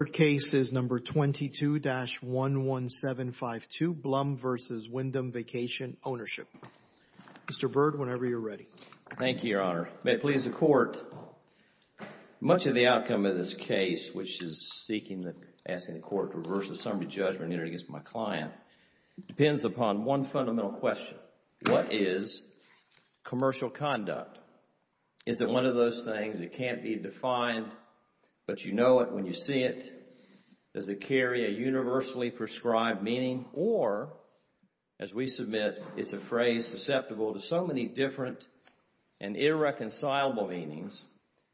Our third case is No. 22-11752, Bluhm v. Wyndham Vacation Ownership. Mr. Byrd, whenever you're ready. Thank you, Your Honor. May it please the Court, much of the outcome of this case, which is seeking, asking the Court to reverse the summary judgment against my client, depends upon one fundamental question. What is commercial conduct? Is it one of those things that can't be defined, but you know it when you see it? Does it carry a universally prescribed meaning? Or, as we submit, is the phrase susceptible to so many different and irreconcilable meanings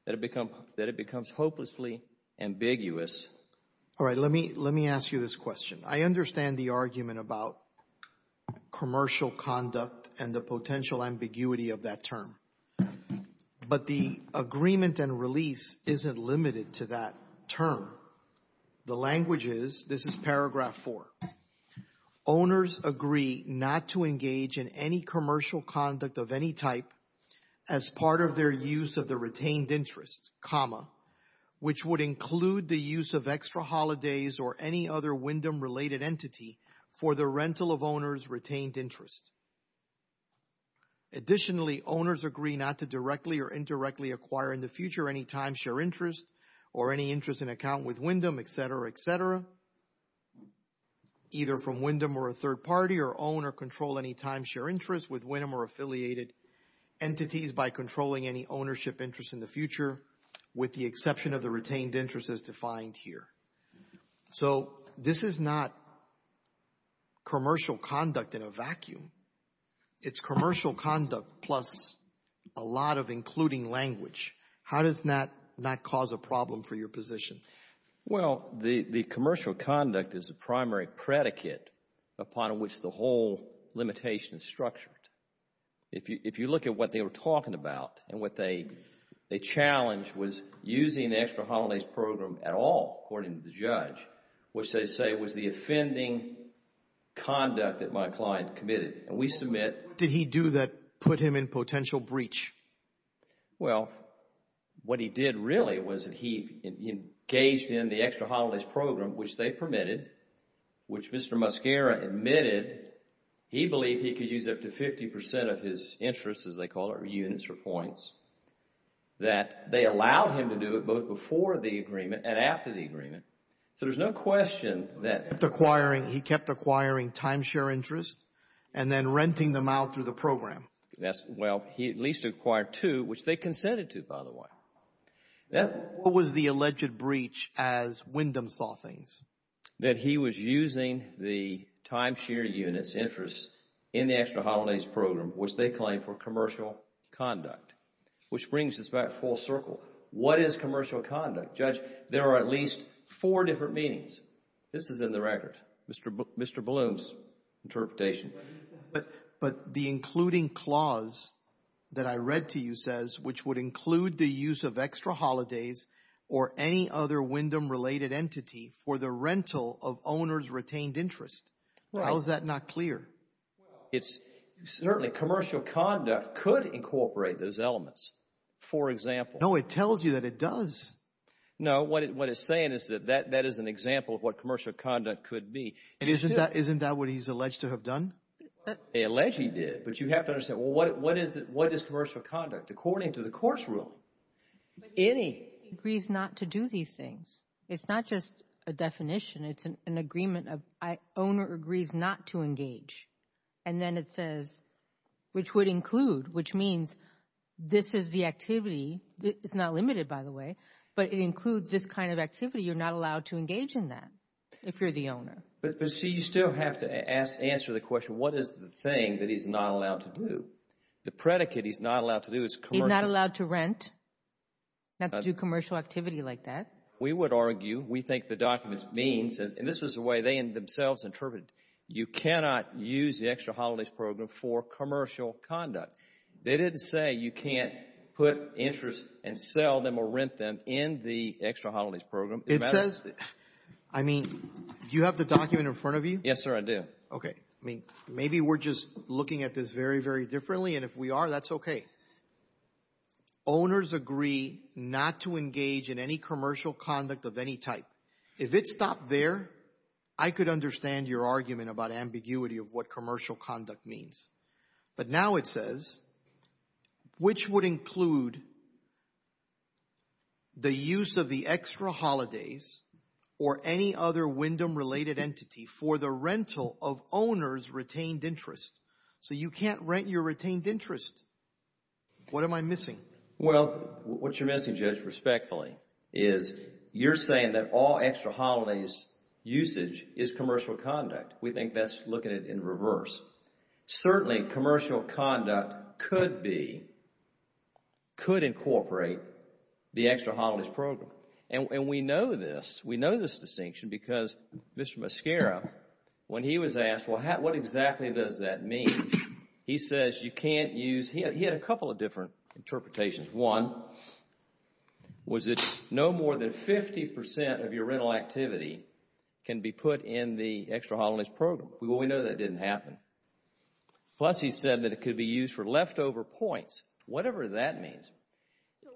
that it becomes hopelessly ambiguous? All right, let me ask you this question. I understand the argument about commercial conduct and the potential ambiguity of that term. But the agreement and release isn't limited to that term. The language is, this is paragraph 4, Owners agree not to engage in any commercial conduct of any type as part of their use of the retained interest, comma, which would include the use of extra holidays or any other Wyndham-related entity for the rental of owner's retained interest. Additionally, owners agree not to directly or indirectly acquire in the future any timeshare interest or any interest in account with Wyndham, et cetera, et cetera, either from Wyndham or a third party or own or control any timeshare interest with Wyndham or affiliated entities by controlling any ownership interest in the future with the exception of the retained interest as defined here. So this is not commercial conduct in a vacuum. It's commercial conduct plus a lot of including language. How does that not cause a problem for your position? Well, the commercial conduct is a primary predicate upon which the whole limitation is structured. If you look at what they were talking about and what they challenged was using the extra holidays program at all, according to the judge, which they say was the offending conduct that my client committed. And we submit Did he do that put him in potential breach? Well, what he did really was that he engaged in the extra holidays program, which they permitted, which Mr. Muscara admitted he believed he could use up to 50 percent of his interest, as they call it, or units or points, that they allowed him to do it both before the agreement and after the agreement. So there's no question that He kept acquiring timeshare interest and then renting them out through the program. Well, he at least acquired two, which they consented to, by the way. What was the alleged breach as Wyndham saw things? That he was using the timeshare units interest in the extra holidays program, which they claim for commercial conduct, which brings us back full circle. What is commercial conduct? Judge, there are at least four different meanings. This is in the record, Mr. Bloom's interpretation. But the including clause that I read to you says, which would include the use of extra holidays or any other Wyndham related entity for the rental of owners retained interest. How is that not clear? It's certainly commercial conduct could incorporate those elements. For example. No, it tells you that it does. No, what it's saying is that that is an example of what commercial conduct could be. And isn't that isn't that what he's alleged to have done? They allege he did. But you have to understand. Well, what is it? What is commercial conduct? According to the course rule, any agrees not to do these things. It's not just a definition. It's an agreement of owner agrees not to engage. And then it says, which would include which means this is the activity. It's not limited, by the way. But it includes this kind of activity. You're not allowed to engage in that if you're the owner. But, see, you still have to answer the question, what is the thing that he's not allowed to do? The predicate he's not allowed to do is commercial. He's not allowed to rent. Not to do commercial activity like that. We would argue, we think the documents means, and this is the way they themselves interpret it. You cannot use the extra holidays program for commercial conduct. They didn't say you can't put interest and sell them or rent them in the extra holidays program. It says, I mean, do you have the document in front of you? Yes, sir, I do. Okay. I mean, maybe we're just looking at this very, very differently, and if we are, that's okay. Owners agree not to engage in any commercial conduct of any type. If it stopped there, I could understand your argument about ambiguity of what commercial conduct means. But now it says, which would include the use of the extra holidays or any other Wyndham-related entity for the rental of owner's retained interest? So you can't rent your retained interest. What am I missing? Well, what you're missing, Judge, respectfully, is you're saying that all extra holidays usage is commercial conduct. We think that's looking at it in reverse. Certainly, commercial conduct could be, could incorporate the extra holidays program. And we know this. We know this distinction because Mr. Mascara, when he was asked, well, what exactly does that mean? He says you can't use, he had a couple of different interpretations. One was that no more than 50% of your rental activity can be put in the extra holidays program. Well, we know that didn't happen. Plus, he said that it could be used for leftover points, whatever that means.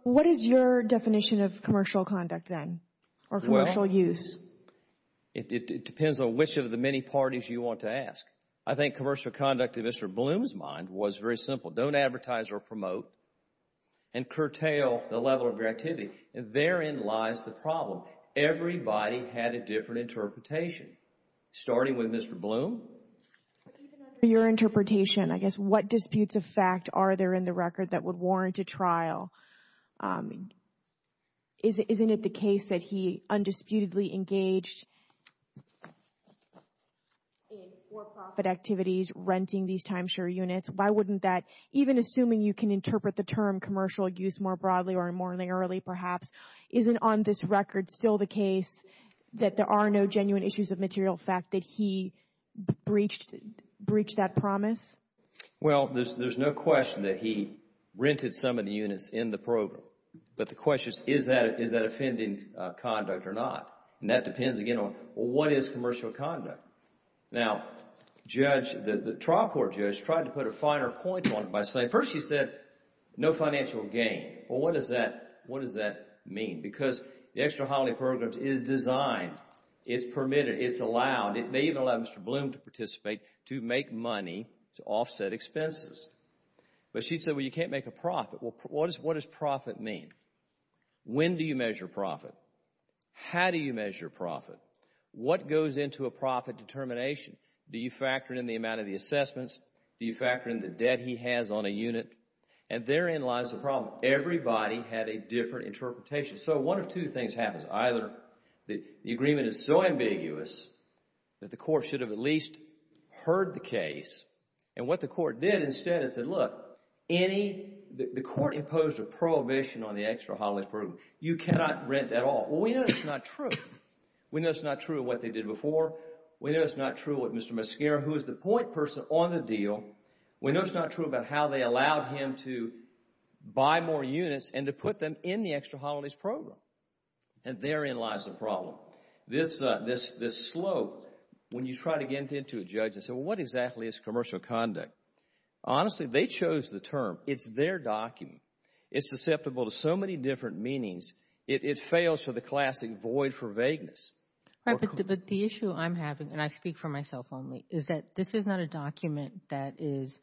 What is your definition of commercial conduct then or commercial use? It depends on which of the many parties you want to ask. I think commercial conduct, in Mr. Bloom's mind, was very simple. Don't advertise or promote and curtail the level of your activity. Therein lies the problem. Everybody had a different interpretation, starting with Mr. Bloom. Even under your interpretation, I guess, what disputes of fact are there in the record that would warrant a trial? Isn't it the case that he undisputedly engaged in for-profit activities, renting these timeshare units? Why wouldn't that, even assuming you can interpret the term commercial use more broadly or more early perhaps, isn't on this record still the case that there are no genuine issues of material fact that he breached that promise? Well, there's no question that he rented some of the units in the program. But the question is, is that offending conduct or not? And that depends, again, on what is commercial conduct? Now, the trial court judge tried to put a finer point on it by saying, first she said no financial gain. Well, what does that mean? Because the Extra Holiday Programs is designed, it's permitted, it's allowed. It may even allow Mr. Bloom to participate to make money to offset expenses. But she said, well, you can't make a profit. Well, what does profit mean? When do you measure profit? How do you measure profit? What goes into a profit determination? Do you factor in the amount of the assessments? Do you factor in the debt he has on a unit? And therein lies the problem. Everybody had a different interpretation. So one of two things happens. Either the agreement is so ambiguous that the court should have at least heard the case. And what the court did instead is said, look, the court imposed a prohibition on the Extra Holiday Program. You cannot rent at all. Well, we know it's not true. We know it's not true what they did before. We know it's not true what Mr. Mascara, who is the point person on the deal, we know it's not true about how they allowed him to buy more units and to put them in the Extra Holidays Program. And therein lies the problem. This slope, when you try to get into a judge and say, well, what exactly is commercial conduct? Honestly, they chose the term. It's their document. It's susceptible to so many different meanings. It fails for the classic void for vagueness. But the issue I'm having, and I speak for myself only, is that this is not a document that is,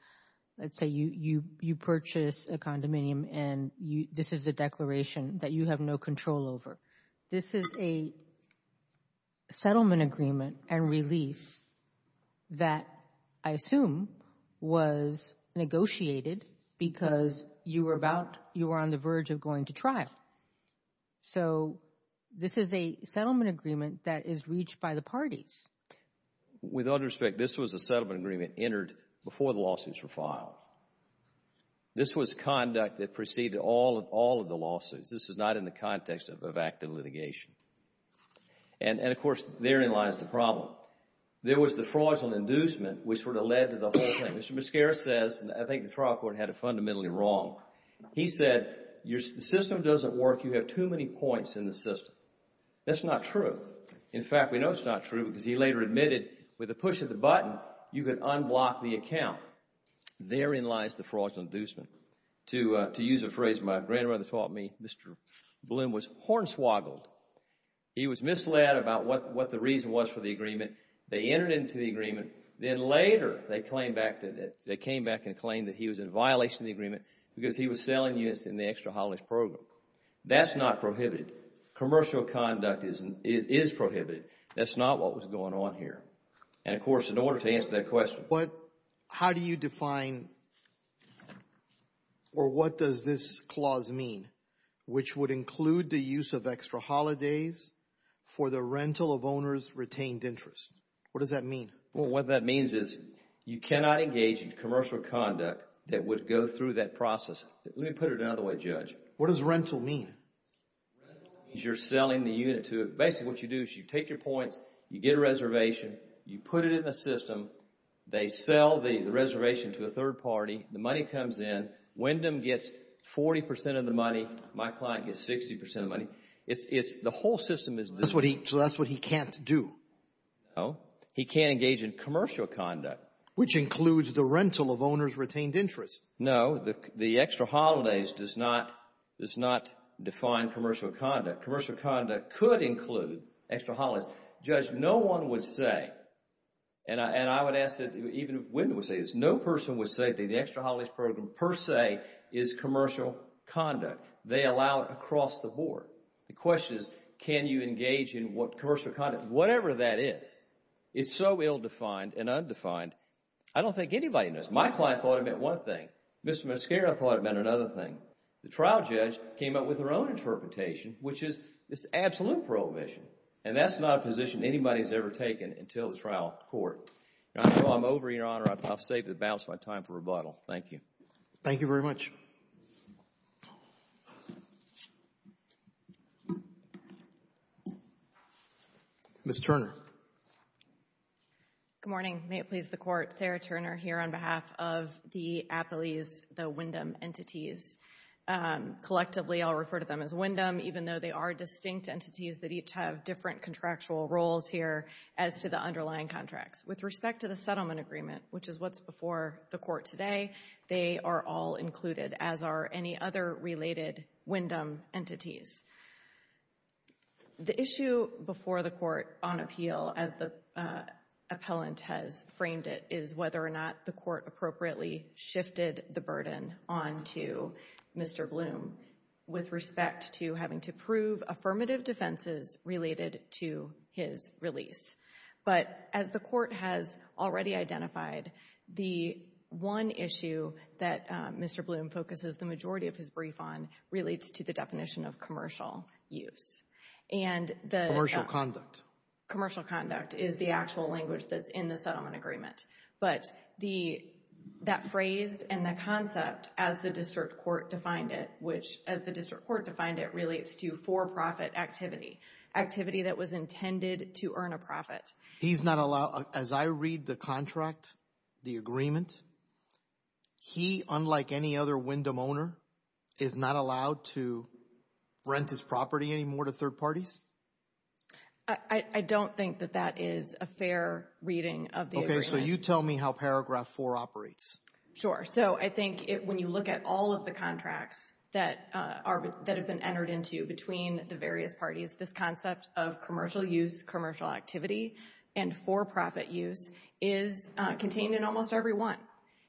let's say, you purchase a condominium and this is a declaration that you have no control over. This is a settlement agreement and release that I assume was negotiated because you were on the verge of going to trial. So this is a settlement agreement that is reached by the parties. With all due respect, this was a settlement agreement entered before the lawsuits were filed. This was conduct that preceded all of the lawsuits. This is not in the context of active litigation. And, of course, therein lies the problem. There was the fraudulent inducement which sort of led to the whole thing. Mr. Miscaris says, and I think the trial court had it fundamentally wrong, he said the system doesn't work. You have too many points in the system. That's not true. In fact, we know it's not true because he later admitted with a push of the button, you could unblock the account. Therein lies the fraudulent inducement. To use a phrase my grandmother taught me, Mr. Bloom was hornswoggled. He was misled about what the reason was for the agreement. They entered into the agreement. Then later they came back and claimed that he was in violation of the agreement because he was selling units in the extra holidays program. That's not prohibited. Commercial conduct is prohibited. That's not what was going on here. And, of course, in order to answer that question. How do you define or what does this clause mean which would include the use of extra holidays for the rental of owner's retained interest? What does that mean? Well, what that means is you cannot engage in commercial conduct that would go through that process. Let me put it another way, Judge. What does rental mean? Rental means you're selling the unit to it. Basically what you do is you take your points, you get a reservation, you put it in the system, they sell the reservation to a third party, the money comes in, Wyndham gets 40% of the money, my client gets 60% of the money. The whole system is this. So that's what he can't do? No. He can't engage in commercial conduct. Which includes the rental of owner's retained interest. No. The extra holidays does not define commercial conduct. Commercial conduct could include extra holidays. Judge, no one would say, and I would ask that even Wyndham would say this, no person would say that the extra holidays program per se is commercial conduct. They allow it across the board. The question is can you engage in commercial conduct? Whatever that is, it's so ill-defined and undefined. I don't think anybody knows. My client thought it meant one thing. Mr. Mascara thought it meant another thing. The trial judge came up with her own interpretation, which is this absolute prohibition, and that's not a position anybody has ever taken until the trial court. I know I'm over, Your Honor. I've saved the balance of my time for rebuttal. Thank you. Thank you very much. Ms. Turner. Good morning. May it please the Court. Sarah Turner here on behalf of the Appellees, the Wyndham entities. Collectively, I'll refer to them as Wyndham, even though they are distinct entities that each have different contractual roles here as to the underlying contracts. With respect to the settlement agreement, which is what's before the Court today, they are all included, as are any other related Wyndham entities. The issue before the Court on appeal, as the appellant has framed it, is whether or not the Court appropriately shifted the burden onto Mr. Bloom with respect to having to prove affirmative defenses related to his release. But as the Court has already identified, the one issue that Mr. Bloom focuses the majority of his brief on relates to the definition of commercial use. Commercial conduct. Commercial conduct is the actual language that's in the settlement agreement. But that phrase and that concept, as the district court defined it, relates to for-profit activity, activity that was intended to earn a profit. As I read the contract, the agreement, he, unlike any other Wyndham owner, is not allowed to rent his property anymore to third parties? I don't think that that is a fair reading of the agreement. Okay, so you tell me how Paragraph 4 operates. Sure. So I think when you look at all of the contracts that have been entered into between the various parties, this concept of commercial use, commercial activity, and for-profit use is contained in almost every one.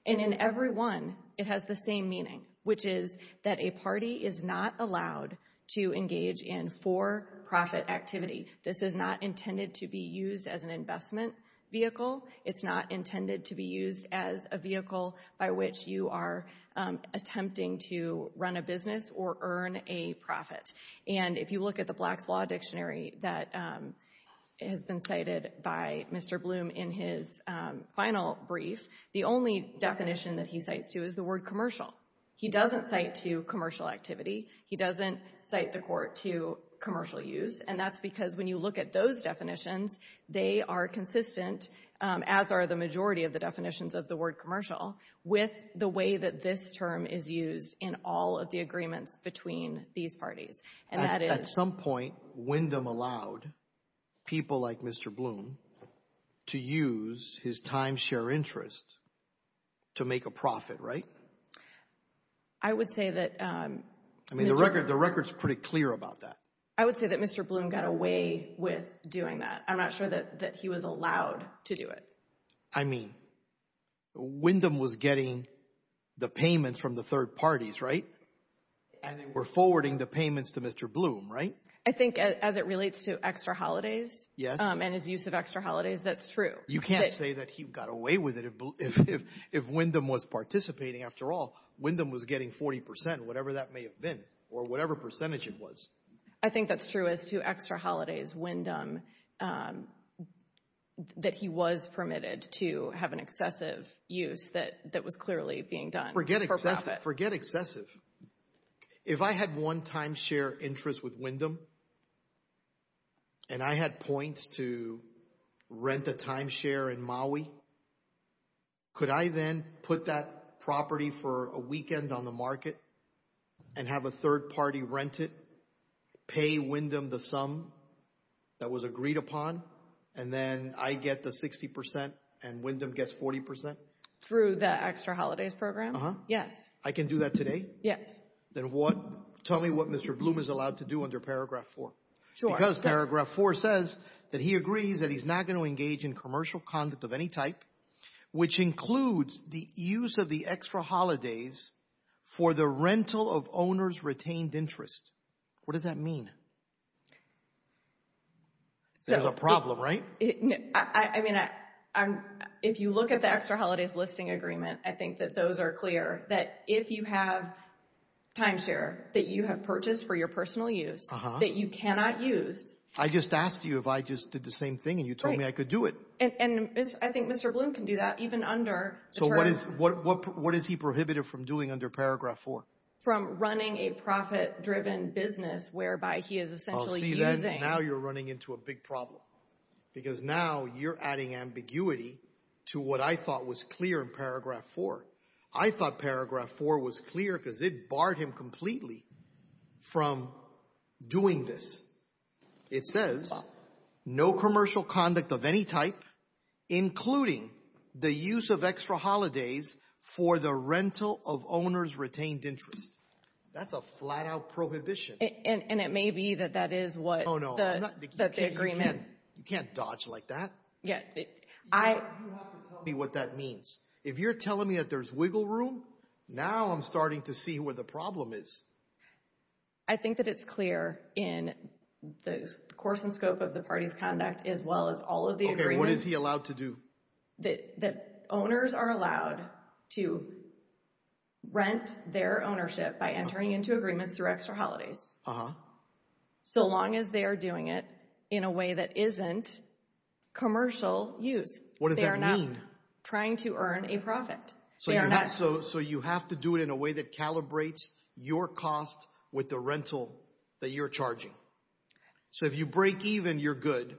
And in every one, it has the same meaning, which is that a party is not allowed to engage in for-profit activity. This is not intended to be used as an investment vehicle. It's not intended to be used as a vehicle by which you are attempting to run a business or earn a profit. And if you look at the Black's Law Dictionary that has been cited by Mr. Bloom in his final brief, the only definition that he cites, too, is the word commercial. He doesn't cite to commercial activity. He doesn't cite the Court to commercial use. And that's because when you look at those definitions, they are consistent, as are the majority of the definitions of the word commercial, with the way that this term is used in all of the agreements between these parties. At some point, Wyndham allowed people like Mr. Bloom to use his timeshare interest to make a profit, right? I would say that... I mean, the record's pretty clear about that. I would say that Mr. Bloom got away with doing that. I'm not sure that he was allowed to do it. I mean, Wyndham was getting the payments from the third parties, right? And they were forwarding the payments to Mr. Bloom, right? I think as it relates to extra holidays and his use of extra holidays, that's true. You can't say that he got away with it if Wyndham was participating. After all, Wyndham was getting 40%, whatever that may have been, or whatever percentage it was. I think that's true as to extra holidays, Wyndham, that he was permitted to have an excessive use that was clearly being done for profit. Forget excessive. If I had one timeshare interest with Wyndham and I had points to rent a timeshare in Maui, could I then put that property for a weekend on the market and have a third party rent it, pay Wyndham the sum that was agreed upon, and then I get the 60% and Wyndham gets 40%? Through the extra holidays program? Yes. I can do that today? Yes. Then tell me what Mr. Bloom is allowed to do under Paragraph 4. Because Paragraph 4 says that he agrees that he's not going to engage in commercial conduct of any type, which includes the use of the extra holidays for the rental of owner's retained interest. What does that mean? There's a problem, right? I mean, if you look at the extra holidays listing agreement, I think that those are clear, that if you have timeshare that you have purchased for your personal use, that you cannot use. I just asked you if I just did the same thing and you told me I could do it. And I think Mr. Bloom can do that even under the terms. So what is he prohibited from doing under Paragraph 4? From running a profit-driven business whereby he is essentially using. Now you're running into a big problem because now you're adding ambiguity to what I thought was clear in Paragraph 4. I thought Paragraph 4 was clear because it barred him completely from doing this. It says no commercial conduct of any type, including the use of extra holidays for the rental of owner's retained interest. That's a flat-out prohibition. And it may be that that is what the agreement. You can't dodge like that. You have to tell me what that means. If you're telling me that there's wiggle room, now I'm starting to see where the problem is. I think that it's clear in the course and scope of the party's conduct as well as all of the agreements. Okay, what is he allowed to do? That owners are allowed to rent their ownership by entering into agreements through extra holidays. So long as they are doing it in a way that isn't commercial use. What does that mean? They are not trying to earn a profit. So you have to do it in a way that calibrates your cost with the rental that you're charging. So if you break even, you're good.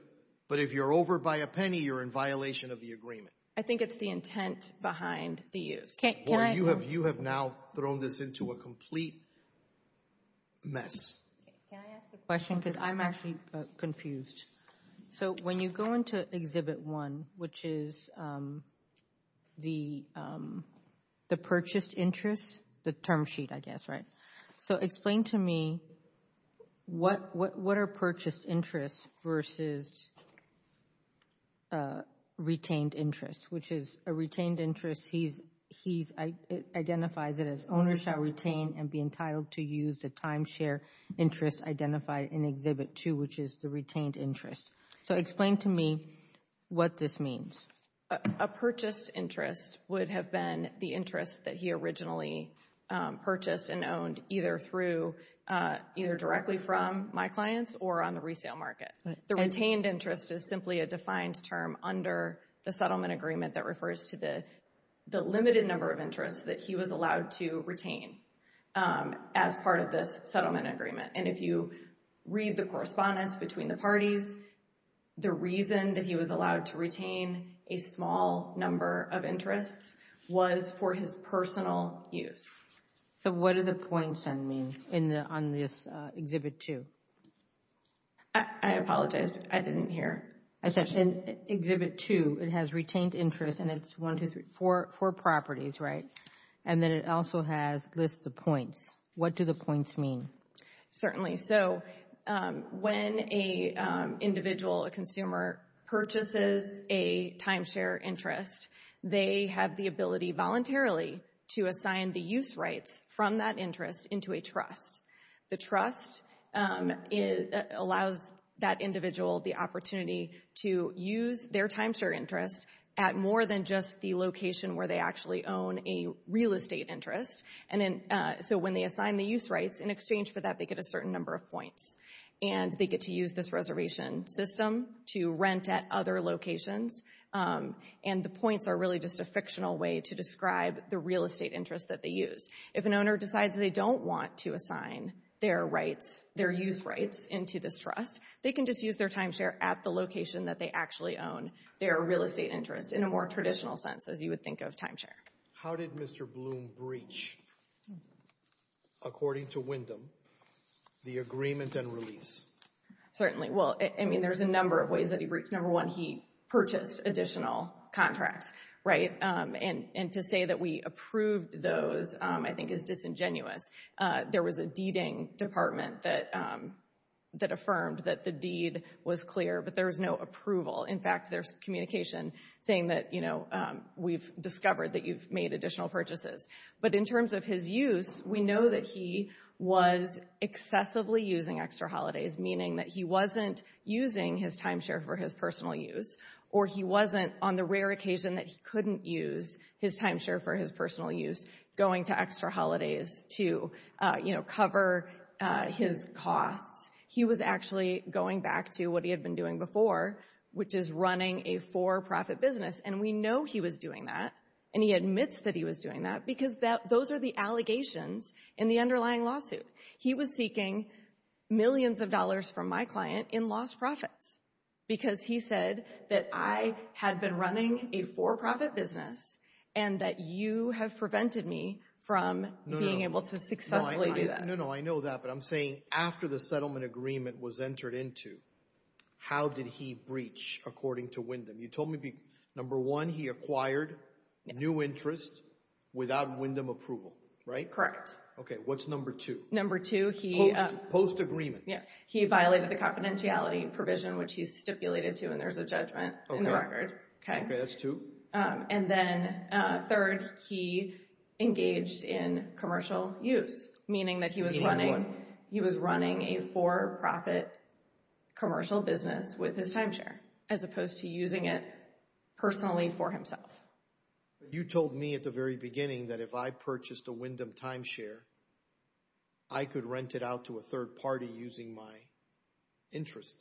But if you're over by a penny, you're in violation of the agreement. I think it's the intent behind the use. You have now thrown this into a complete mess. Can I ask a question? Because I'm actually confused. So when you go into Exhibit 1, which is the purchased interest, the term sheet, I guess, right? So explain to me what are purchased interests versus retained interest, which is a retained interest. He identifies it as owner shall retain and be entitled to use the timeshare interest identified in Exhibit 2, which is the retained interest. So explain to me what this means. A purchased interest would have been the interest that he originally purchased and owned either directly from my clients or on the resale market. The retained interest is simply a defined term under the settlement agreement that refers to the limited number of interests that he was allowed to retain as part of this settlement agreement. And if you read the correspondence between the parties, the reason that he was allowed to retain a small number of interests was for his personal use. So what do the points then mean on this Exhibit 2? I apologize. I didn't hear. In Exhibit 2, it has retained interest, and it's one, two, three, four properties, right? And then it also has lists of points. What do the points mean? So when an individual, a consumer, purchases a timeshare interest, they have the ability voluntarily to assign the use rights from that interest into a trust. The trust allows that individual the opportunity to use their timeshare interest at more than just the location where they actually own a real estate interest. And so when they assign the use rights, in exchange for that, they get a certain number of points. And they get to use this reservation system to rent at other locations. And the points are really just a fictional way to describe the real estate interest that they use. If an owner decides they don't want to assign their rights, their use rights, into this trust, they can just use their timeshare at the location that they actually own their real estate interest, in a more traditional sense, as you would think of timeshare. How did Mr. Bloom breach, according to Wyndham, the agreement and release? Certainly. Well, I mean, there's a number of ways that he breached. Number one, he purchased additional contracts, right? And to say that we approved those, I think, is disingenuous. There was a deeding department that affirmed that the deed was clear, but there was no approval. In fact, there's communication saying that, you know, we've discovered that you've made additional purchases. But in terms of his use, we know that he was excessively using extra holidays, meaning that he wasn't using his timeshare for his personal use, or he wasn't, on the rare occasion that he couldn't use his timeshare for his personal use, going to extra holidays to, you know, cover his costs. He was actually going back to what he had been doing before, which is running a for-profit business. And we know he was doing that, and he admits that he was doing that, because those are the allegations in the underlying lawsuit. He was seeking millions of dollars from my client in lost profits because he said that I had been running a for-profit business No, no, I know that, but I'm saying after the settlement agreement was entered into, how did he breach according to Wyndham? You told me number one, he acquired new interest without Wyndham approval, right? Correct. Okay, what's number two? Number two, he... Post-agreement. Yeah, he violated the confidentiality provision, which he stipulated to, and there's a judgment in the record. Okay, that's two. And then third, he engaged in commercial use, meaning that he was running... He had what? He was running a for-profit commercial business with his timeshare, as opposed to using it personally for himself. You told me at the very beginning that if I purchased a Wyndham timeshare, I could rent it out to a third party using my interest.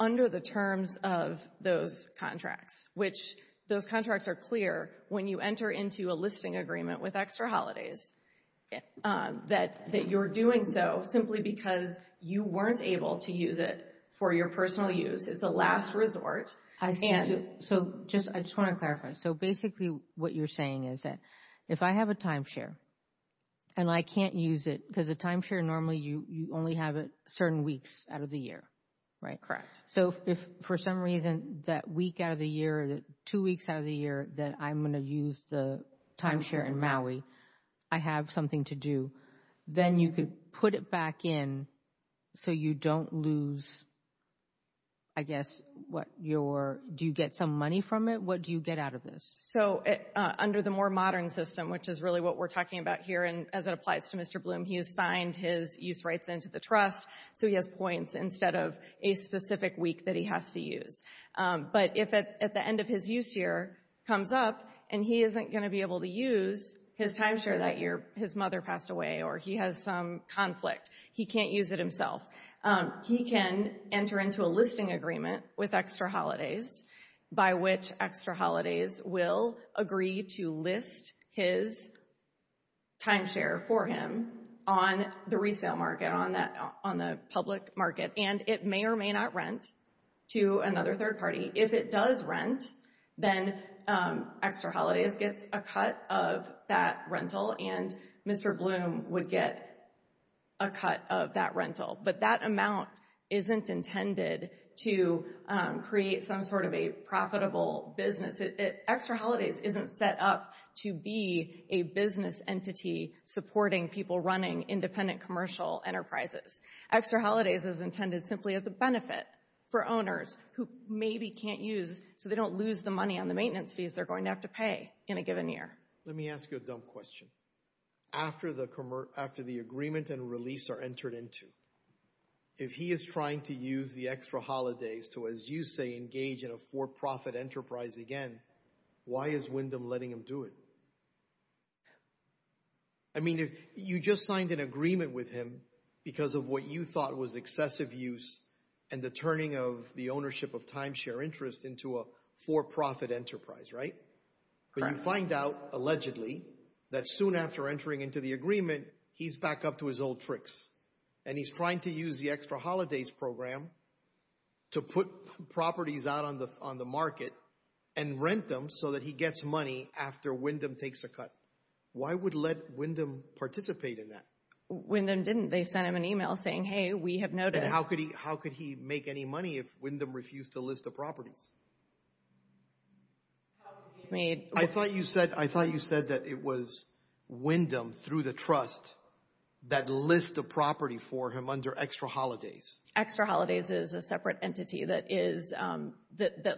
Under the terms of those contracts, which those contracts are clear, when you enter into a listing agreement with Extra Holidays, that you're doing so simply because you weren't able to use it for your personal use. It's a last resort. So I just want to clarify. So basically what you're saying is that if I have a timeshare and I can't use it, because a timeshare normally, you only have it certain weeks out of the year, right? Correct. So if for some reason that week out of the year, two weeks out of the year that I'm going to use the timeshare in Maui, I have something to do, then you could put it back in so you don't lose, I guess, what your... Do you get some money from it? What do you get out of this? So under the more modern system, which is really what we're talking about here, and as it applies to Mr. Bloom, he has signed his use rights into the trust, so he has points instead of a specific week that he has to use. But if at the end of his use year comes up and he isn't going to be able to use his timeshare that year, his mother passed away or he has some conflict, he can't use it himself, he can enter into a listing agreement with Extra Holidays by which Extra Holidays will agree to list his timeshare for him on the resale market, on the public market, and it may or may not rent to another third party. If it does rent, then Extra Holidays gets a cut of that rental and Mr. Bloom would get a cut of that rental. But that amount isn't intended to create some sort of a profitable business. Extra Holidays isn't set up to be a business entity supporting people running independent commercial enterprises. Extra Holidays is intended simply as a benefit for owners who maybe can't use, so they don't lose the money on the maintenance fees they're going to have to pay in a given year. Let me ask you a dumb question. After the agreement and release are entered into, if he is trying to use the Extra Holidays to, as you say, engage in a for-profit enterprise again, why is Wyndham letting him do it? I mean, you just signed an agreement with him because of what you thought was excessive use and the turning of the ownership of timeshare interest into a for-profit enterprise, right? But you find out, allegedly, that soon after entering into the agreement, he's back up to his old tricks and he's trying to use the Extra Holidays program to put properties out on the market and rent them so that he gets money after Wyndham takes a cut. Why would let Wyndham participate in that? Wyndham didn't. They sent him an email saying, hey, we have noticed. And how could he make any money if Wyndham refused to list the properties? I thought you said that it was Wyndham, through the trust, that lists the property for him under Extra Holidays. Extra Holidays is a separate entity that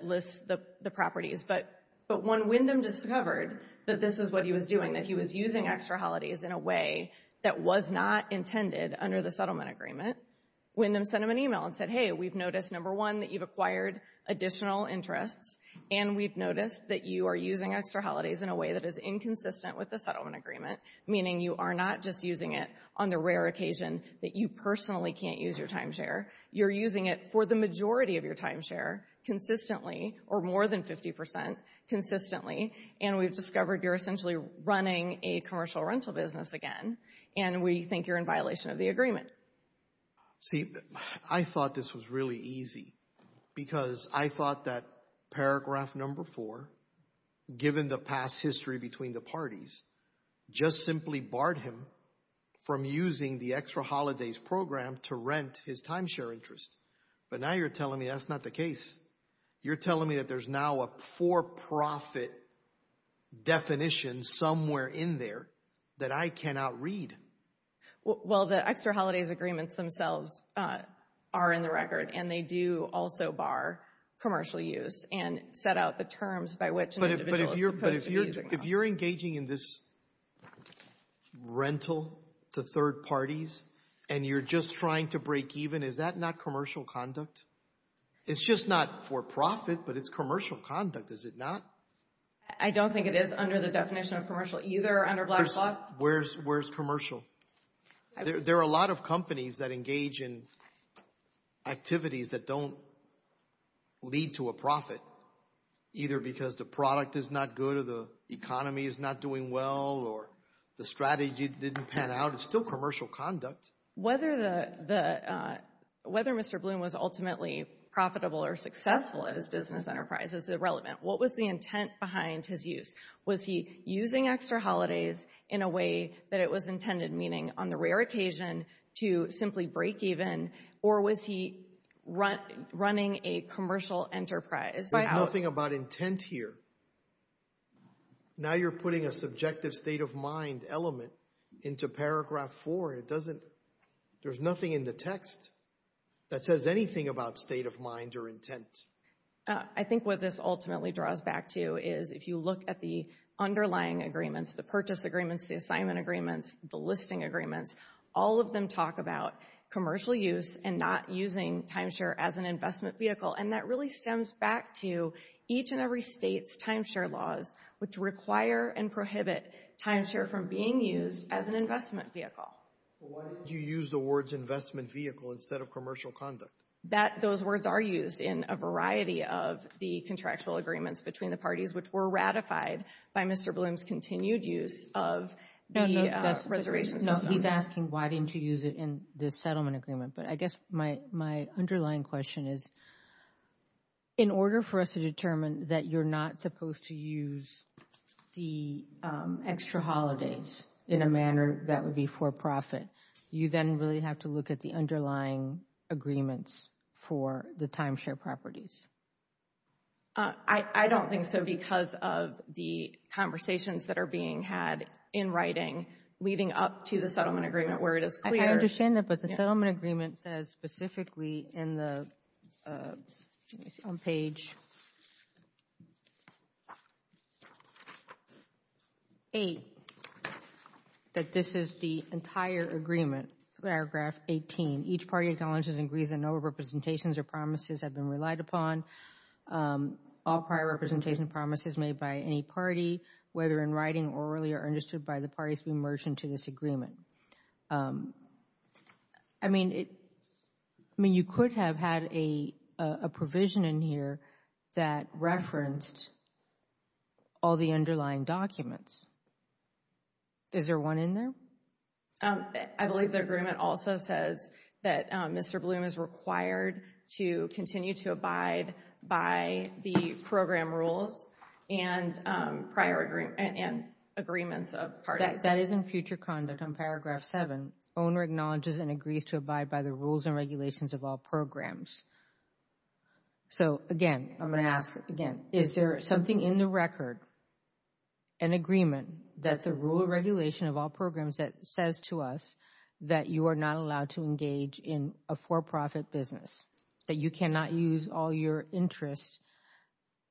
lists the properties. But when Wyndham discovered that this is what he was doing, that he was using Extra Holidays in a way that was not intended under the settlement agreement, Wyndham sent him an email and said, hey, we've noticed, number one, that you've acquired additional interests and we've noticed that you are using Extra Holidays in a way that is inconsistent with the settlement agreement, meaning you are not just using it on the rare occasion that you personally can't use your timeshare. You're using it for the majority of your timeshare consistently or more than 50% consistently, and we've discovered you're essentially running a commercial rental business again, and we think you're in violation of the agreement. See, I thought this was really easy because I thought that paragraph number four, given the past history between the parties, just simply barred him from using the Extra Holidays program to rent his timeshare interest. But now you're telling me that's not the case. You're telling me that there's now a for-profit definition somewhere in there that I cannot read. Well, the Extra Holidays agreements themselves are in the record, and they do also bar commercial use and set out the terms by which an individual is supposed to use it. But if you're engaging in this rental to third parties and you're just trying to break even, is that not commercial conduct? It's just not for-profit, but it's commercial conduct, is it not? I don't think it is under the definition of commercial either, under Black Claw. Where's commercial? There are a lot of companies that engage in activities that don't lead to a profit, either because the product is not good or the economy is not doing well or the strategy didn't pan out. It's still commercial conduct. Whether Mr. Bloom was ultimately profitable or successful at his business enterprise is irrelevant. What was the intent behind his use? Was he using Extra Holidays in a way that it was intended, meaning on the rare occasion to simply break even, or was he running a commercial enterprise? There's nothing about intent here. Now you're putting a subjective state-of-mind element into paragraph 4. There's nothing in the text that says anything about state-of-mind or intent. I think what this ultimately draws back to is if you look at the underlying agreements, the purchase agreements, the assignment agreements, the listing agreements, all of them talk about commercial use and not using timeshare as an investment vehicle, and that really stems back to each and every state's timeshare laws which require and prohibit timeshare from being used as an investment vehicle. Why did you use the words investment vehicle instead of commercial conduct? Those words are used in a variety of the contractual agreements between the parties which were ratified by Mr. Bloom's continued use of the reservations. He's asking why didn't you use it in the settlement agreement, but I guess my underlying question is, in order for us to determine that you're not supposed to use the extra holidays in a manner that would be for profit, you then really have to look at the underlying agreements for the timeshare properties. I don't think so because of the conversations that are being had in writing leading up to the settlement agreement where it is clear... I understand that, but the settlement agreement says specifically on page 8 that this is the entire agreement, paragraph 18. Each party acknowledges and agrees that no representations or promises have been relied upon. All prior representation and promises made by any party, whether in writing, orally, or understood by the parties, we merge into this agreement. I mean, you could have had a provision in here that referenced all the underlying documents. Is there one in there? I believe the agreement also says that Mr. Bloom is required to continue to abide by the program rules and agreements of parties. That is in future conduct on paragraph 7. Owner acknowledges and agrees to abide by the rules and regulations of all programs. So, again, I'm going to ask again, is there something in the record, an agreement, that's a rule of regulation of all programs that says to us that you are not allowed to engage in a for-profit business, that you cannot use all your interests,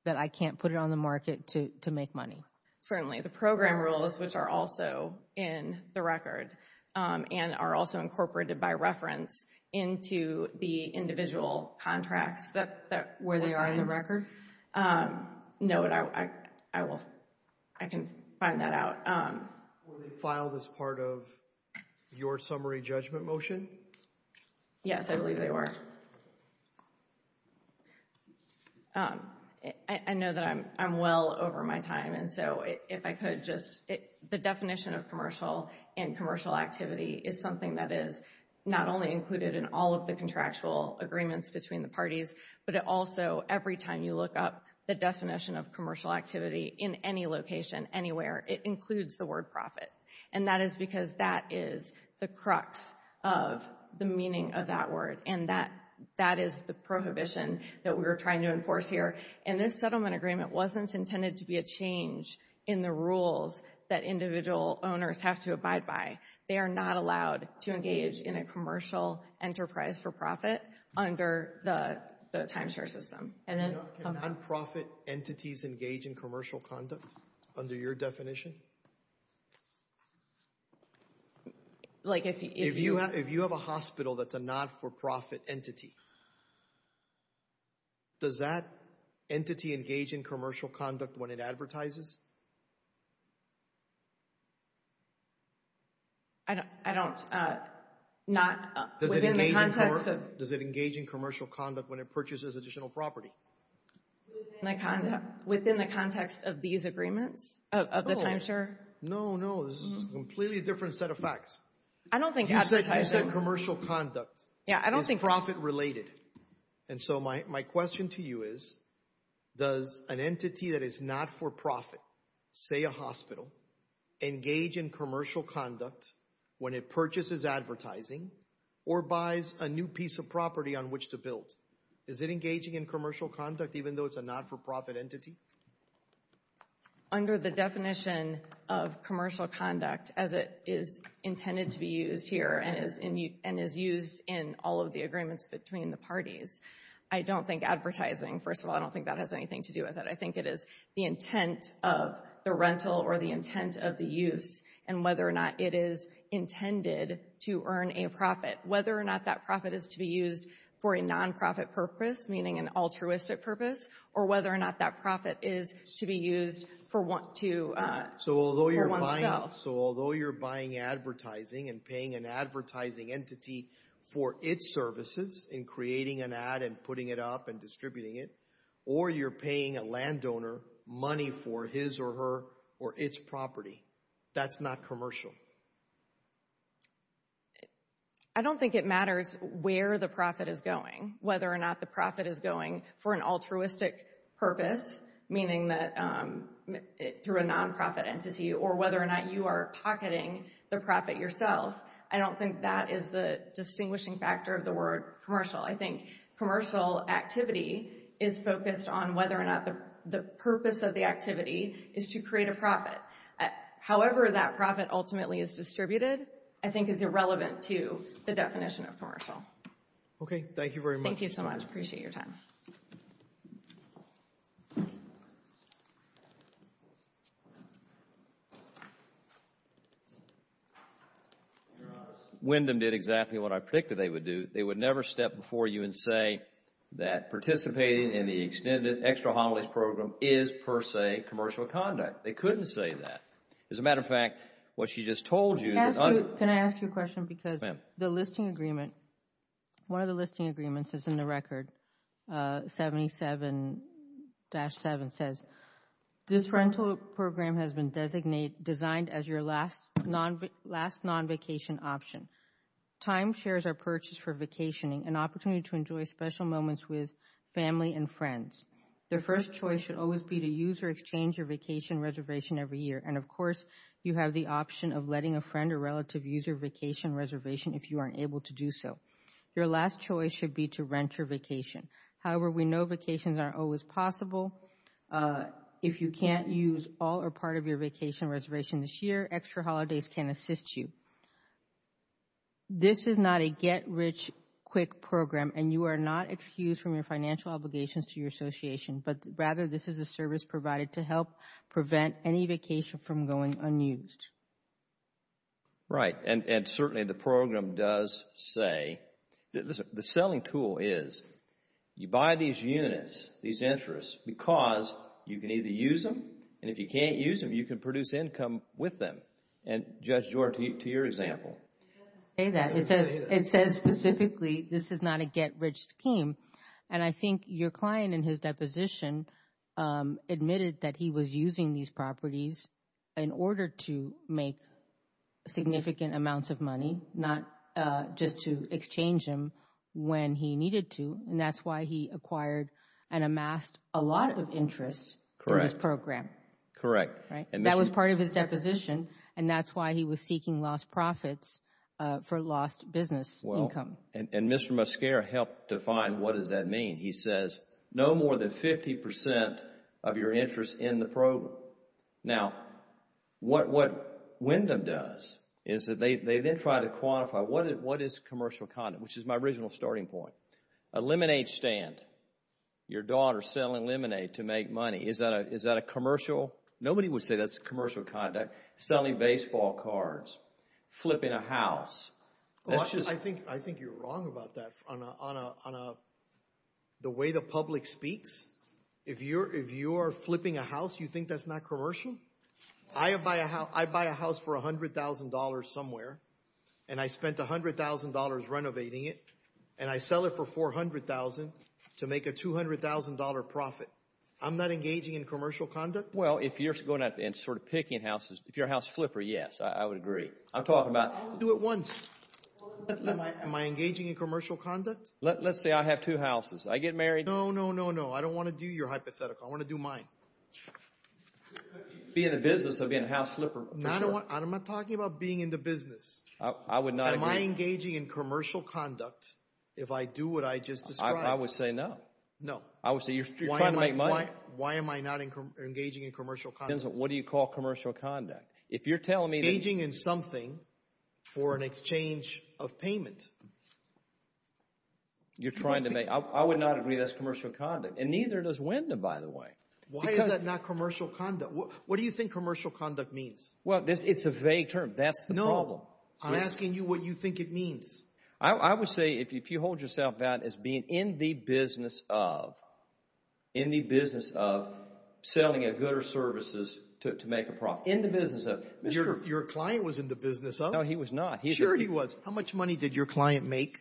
that I can't put it on the market to make money? Certainly. The program rules, which are also in the record, and are also incorporated by reference into the individual contracts that were signed. Were they in the record? No, but I can find that out. Were they filed as part of your summary judgment motion? Yes, I believe they were. I know that I'm well over my time, and so if I could just, the definition of commercial and commercial activity is something that is not only included in all of the contractual agreements between the parties, but it also, every time you look up the definition of commercial activity in any location, anywhere, it includes the word profit. And that is because that is the crux of the meaning of that word, and that is the prohibition that we are trying to enforce here. And this settlement agreement wasn't intended to be a change in the rules that individual owners have to abide by. They are not allowed to engage in a commercial enterprise for profit under the timeshare system. Can non-profit entities engage in commercial conduct under your definition? If you have a hospital that's a not-for-profit entity, does that entity engage in commercial conduct when it advertises? I don't, not within the context of... Does it engage in commercial conduct when it purchases additional property? No, no, this is a completely different set of facts. I don't think advertising... You said commercial conduct. Yeah, I don't think... Is profit-related. And so my question to you is, does an entity that is not-for-profit, say a hospital, engage in commercial conduct when it purchases advertising or buys a new piece of property on which to build? Is it engaging in commercial conduct even though it's a not-for-profit entity? Under the definition of commercial conduct, as it is intended to be used here and is used in all of the agreements between the parties, I don't think advertising, first of all, I don't think that has anything to do with it. I think it is the intent of the rental or the intent of the use and whether or not it is intended to earn a profit. Whether or not that profit is to be used for a non-profit purpose, meaning an altruistic purpose, or whether or not that profit is to be used for one's self. So although you're buying advertising and paying an advertising entity for its services in creating an ad and putting it up and distributing it, or you're paying a landowner money for his or her or its property, that's not commercial? I don't think it matters where the profit is going, whether or not the profit is going for an altruistic purpose, meaning through a non-profit entity, or whether or not you are pocketing the profit yourself. I don't think that is the distinguishing factor of the word commercial. I think commercial activity is focused on whether or not the purpose of the activity is to create a profit. However that profit ultimately is distributed, I think is irrelevant to the definition of commercial. Okay. Thank you very much. Thank you so much. I appreciate your time. Your Honor, Wyndham did exactly what I predicted they would do. They would never step before you and say that participating in the Extended Extra-Homilies Program is per se commercial conduct. They couldn't say that. As a matter of fact, what she just told you is that... Can I ask you a question? Your Honor, because the listing agreement, one of the listing agreements is in the record, 77-7 says, this rental program has been designed as your last non-vacation option. Time shares are purchased for vacationing, an opportunity to enjoy special moments with family and friends. Their first choice should always be to use or exchange your vacation reservation every year, and of course you have the option of letting a friend or relative use your vacation reservation if you aren't able to do so. Your last choice should be to rent your vacation. However, we know vacations aren't always possible. If you can't use all or part of your vacation reservation this year, Extra Holidays can assist you. This is not a get-rich-quick program, and you are not excused from your financial obligations to your association, but rather this is a service provided to help prevent any vacation from going unused. Right, and certainly the program does say... Listen, the selling tool is you buy these units, these interests, because you can either use them, and if you can't use them, you can produce income with them. And Judge Jordan, to your example. It doesn't say that. It says specifically this is not a get-rich scheme, and I think your client in his deposition admitted that he was using these properties in order to make significant amounts of money, not just to exchange them when he needed to, and that's why he acquired and amassed a lot of interest in this program. Correct. That was part of his deposition, and that's why he was seeking lost profits for lost business income. And Mr. Muscara helped define what does that mean. He says no more than 50% of your interest in the program. Now, what Wyndham does is they then try to quantify what is commercial conduct, which is my original starting point. A lemonade stand. Your daughter selling lemonade to make money. Is that a commercial? Nobody would say that's commercial conduct. Selling baseball cards. Flipping a house. I think you're wrong about that on the way the public speaks. If you are flipping a house, you think that's not commercial? I buy a house for $100,000 somewhere, and I spent $100,000 renovating it, and I sell it for $400,000 to make a $200,000 profit. I'm not engaging in commercial conduct? Well, if you're going out and sort of picking houses, if you're a house flipper, yes, I would agree. I'm talking about. I would do it once. Am I engaging in commercial conduct? Let's say I have two houses. I get married. No, no, no, no. I don't want to do your hypothetical. I want to do mine. Be in the business of being a house flipper. I'm not talking about being in the business. I would not agree. Am I engaging in commercial conduct if I do what I just described? I would say no. No. I would say you're trying to make money. Why am I not engaging in commercial conduct? What do you call commercial conduct? If you're telling me that. Engaging in something for an exchange of payment. You're trying to make. I would not agree that's commercial conduct, and neither does Wyndham, by the way. Why is that not commercial conduct? What do you think commercial conduct means? Well, it's a vague term. That's the problem. No. I'm asking you what you think it means. I would say if you hold yourself out as being in the business of, in the business of selling a good or services to make a profit, in the business of. Your client was in the business of? No, he was not. Sure he was. How much money did your client make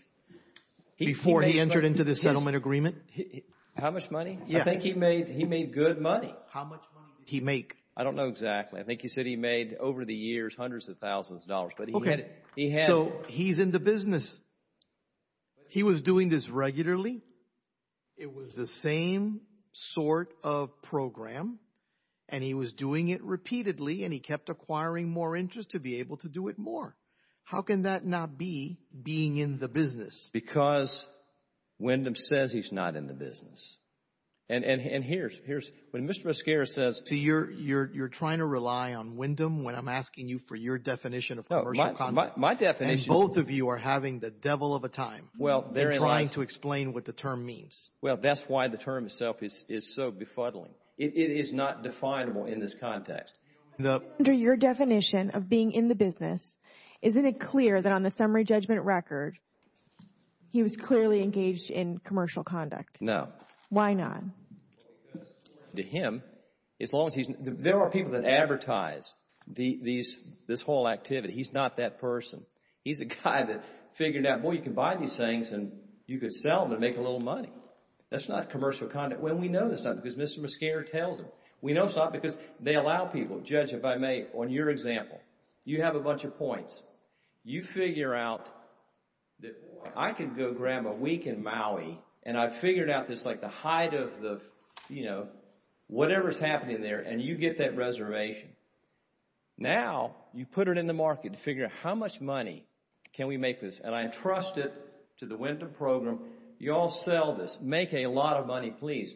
before he entered into this settlement agreement? How much money? I think he made good money. How much money did he make? I don't know exactly. I think you said he made over the years hundreds of thousands of dollars. Okay. So he's in the business. He was doing this regularly. It was the same sort of program, and he was doing it repeatedly, and he kept acquiring more interest to be able to do it more. How can that not be being in the business? Because Wyndham says he's not in the business. And here's, when Mr. Mosquera says. See, you're trying to rely on Wyndham when I'm asking you for your definition of commercial conduct. My definition. And both of you are having the devil of a time. They're trying to explain what the term means. Well, that's why the term itself is so befuddling. It is not definable in this context. Under your definition of being in the business, isn't it clear that on the summary judgment record he was clearly engaged in commercial conduct? No. Why not? To him, as long as he's... There are people that advertise this whole activity. He's not that person. He's a guy that figured out, boy, you can buy these things, and you can sell them and make a little money. That's not commercial conduct. Well, we know that's not because Mr. Mosquera tells him. We know it's not because they allow people. Judge, if I may, on your example. You have a bunch of points. You figure out that, boy, I can go grab a week in Maui, and I've figured out this, like, the height of the, you know, whatever's happening there, and you get that reservation. Now you put it in the market to figure out how much money can we make with this, and I entrust it to the Wynton Program. You all sell this. Make a lot of money, please.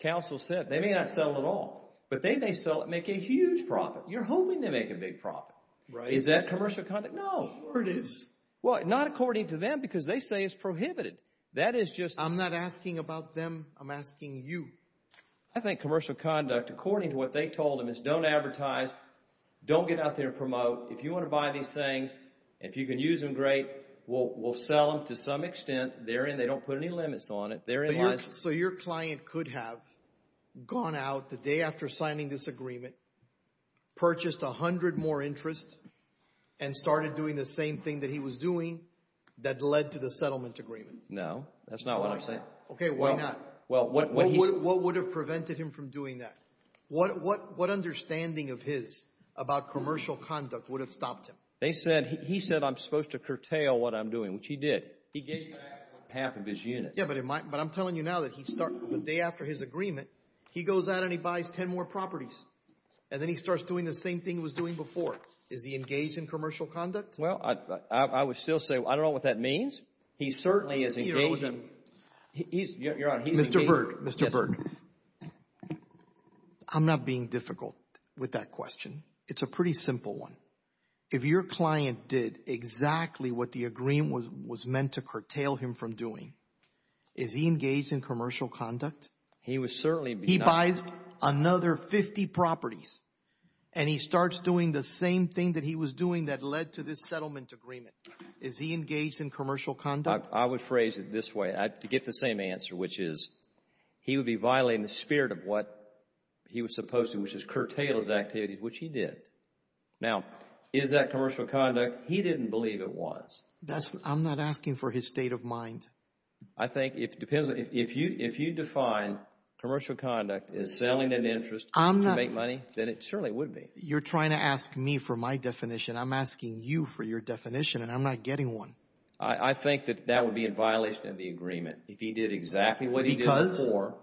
Counsel said they may not sell it all, but they may sell it and make a huge profit. You're hoping they make a big profit. Is that commercial conduct? No. Sure it is. Well, not according to them because they say it's prohibited. That is just... I'm not asking about them. I'm asking you. I think commercial conduct, according to what they told them, is don't advertise, don't get out there and promote. If you want to buy these things and if you can use them, great. We'll sell them to some extent. They're in. They don't put any limits on it. They're in line. So your client could have gone out the day after signing this agreement, purchased a hundred more interest, and started doing the same thing that he was doing that led to the settlement agreement? No. That's not what I'm saying. Okay, why not? What would have prevented him from doing that? What understanding of his about commercial conduct would have stopped him? He said, I'm supposed to curtail what I'm doing, which he did. He gave you half of his units. Yeah, but I'm telling you now that the day after his agreement, he goes out and he buys ten more properties, and then he starts doing the same thing he was doing before. Is he engaged in commercial conduct? Well, I would still say, I don't know what that means. He certainly is engaged. Your Honor, he's engaged. Mr. Berg, Mr. Berg, I'm not being difficult with that question. It's a pretty simple one. If your client did exactly what the agreement was meant to curtail him from doing, is he engaged in commercial conduct? He would certainly be. He buys another 50 properties, and he starts doing the same thing that he was doing that led to this settlement agreement. Is he engaged in commercial conduct? I would phrase it this way to get the same answer, which is he would be violating the spirit of what he was supposed to, which is curtail his activities, which he did. Now, is that commercial conduct? He didn't believe it was. I'm not asking for his state of mind. I think it depends. If you define commercial conduct as selling an interest to make money, then it certainly would be. You're trying to ask me for my definition. I'm asking you for your definition, and I'm not getting one. I think that that would be in violation of the agreement if he did exactly what he did before.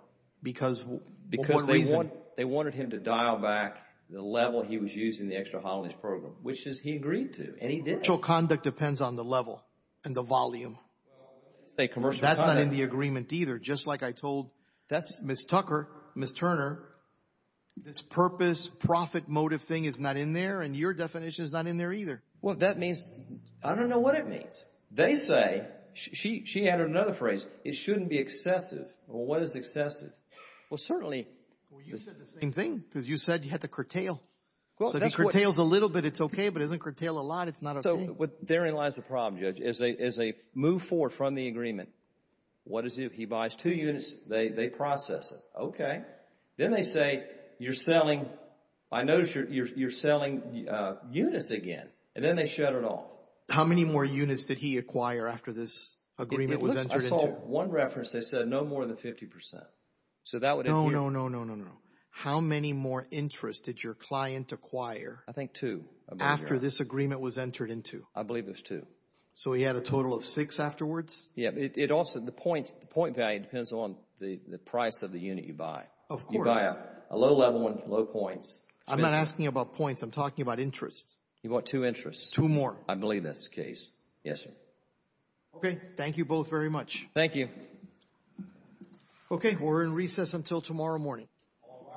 Because? Because they wanted him to dial back the level he was using in the extra-holidays program, which is he agreed to, and he did. Commercial conduct depends on the level and the volume. That's not in the agreement either. Just like I told Ms. Tucker, Ms. Turner, this purpose, profit motive thing is not in there, and your definition is not in there either. Well, that means, I don't know what it means. They say, she added another phrase, it shouldn't be excessive. Well, what is excessive? Well, certainly. Well, you said the same thing because you said you had to curtail. So if he curtails a little bit, it's okay, but if he doesn't curtail a lot, it's not okay. So therein lies the problem, Judge. As they move forward from the agreement, what does he do? He buys two units. They process it. Okay. Then they say, you're selling units again, and then they shut it off. How many more units did he acquire after this agreement was entered into? I saw one reference that said no more than 50%. No, no, no, no, no, no. How many more interest did your client acquire after this agreement was entered into? I believe it was two. So he had a total of six afterwards? Yeah. It also, the point value depends on the price of the unit you buy. Of course. You buy a low-level one, low points. I'm not asking about points. I'm talking about interest. You bought two interests. Two more. I believe that's the case. Yes, sir. Okay. Thank you both very much. Thank you. Okay. We're in recess until tomorrow morning. All rise.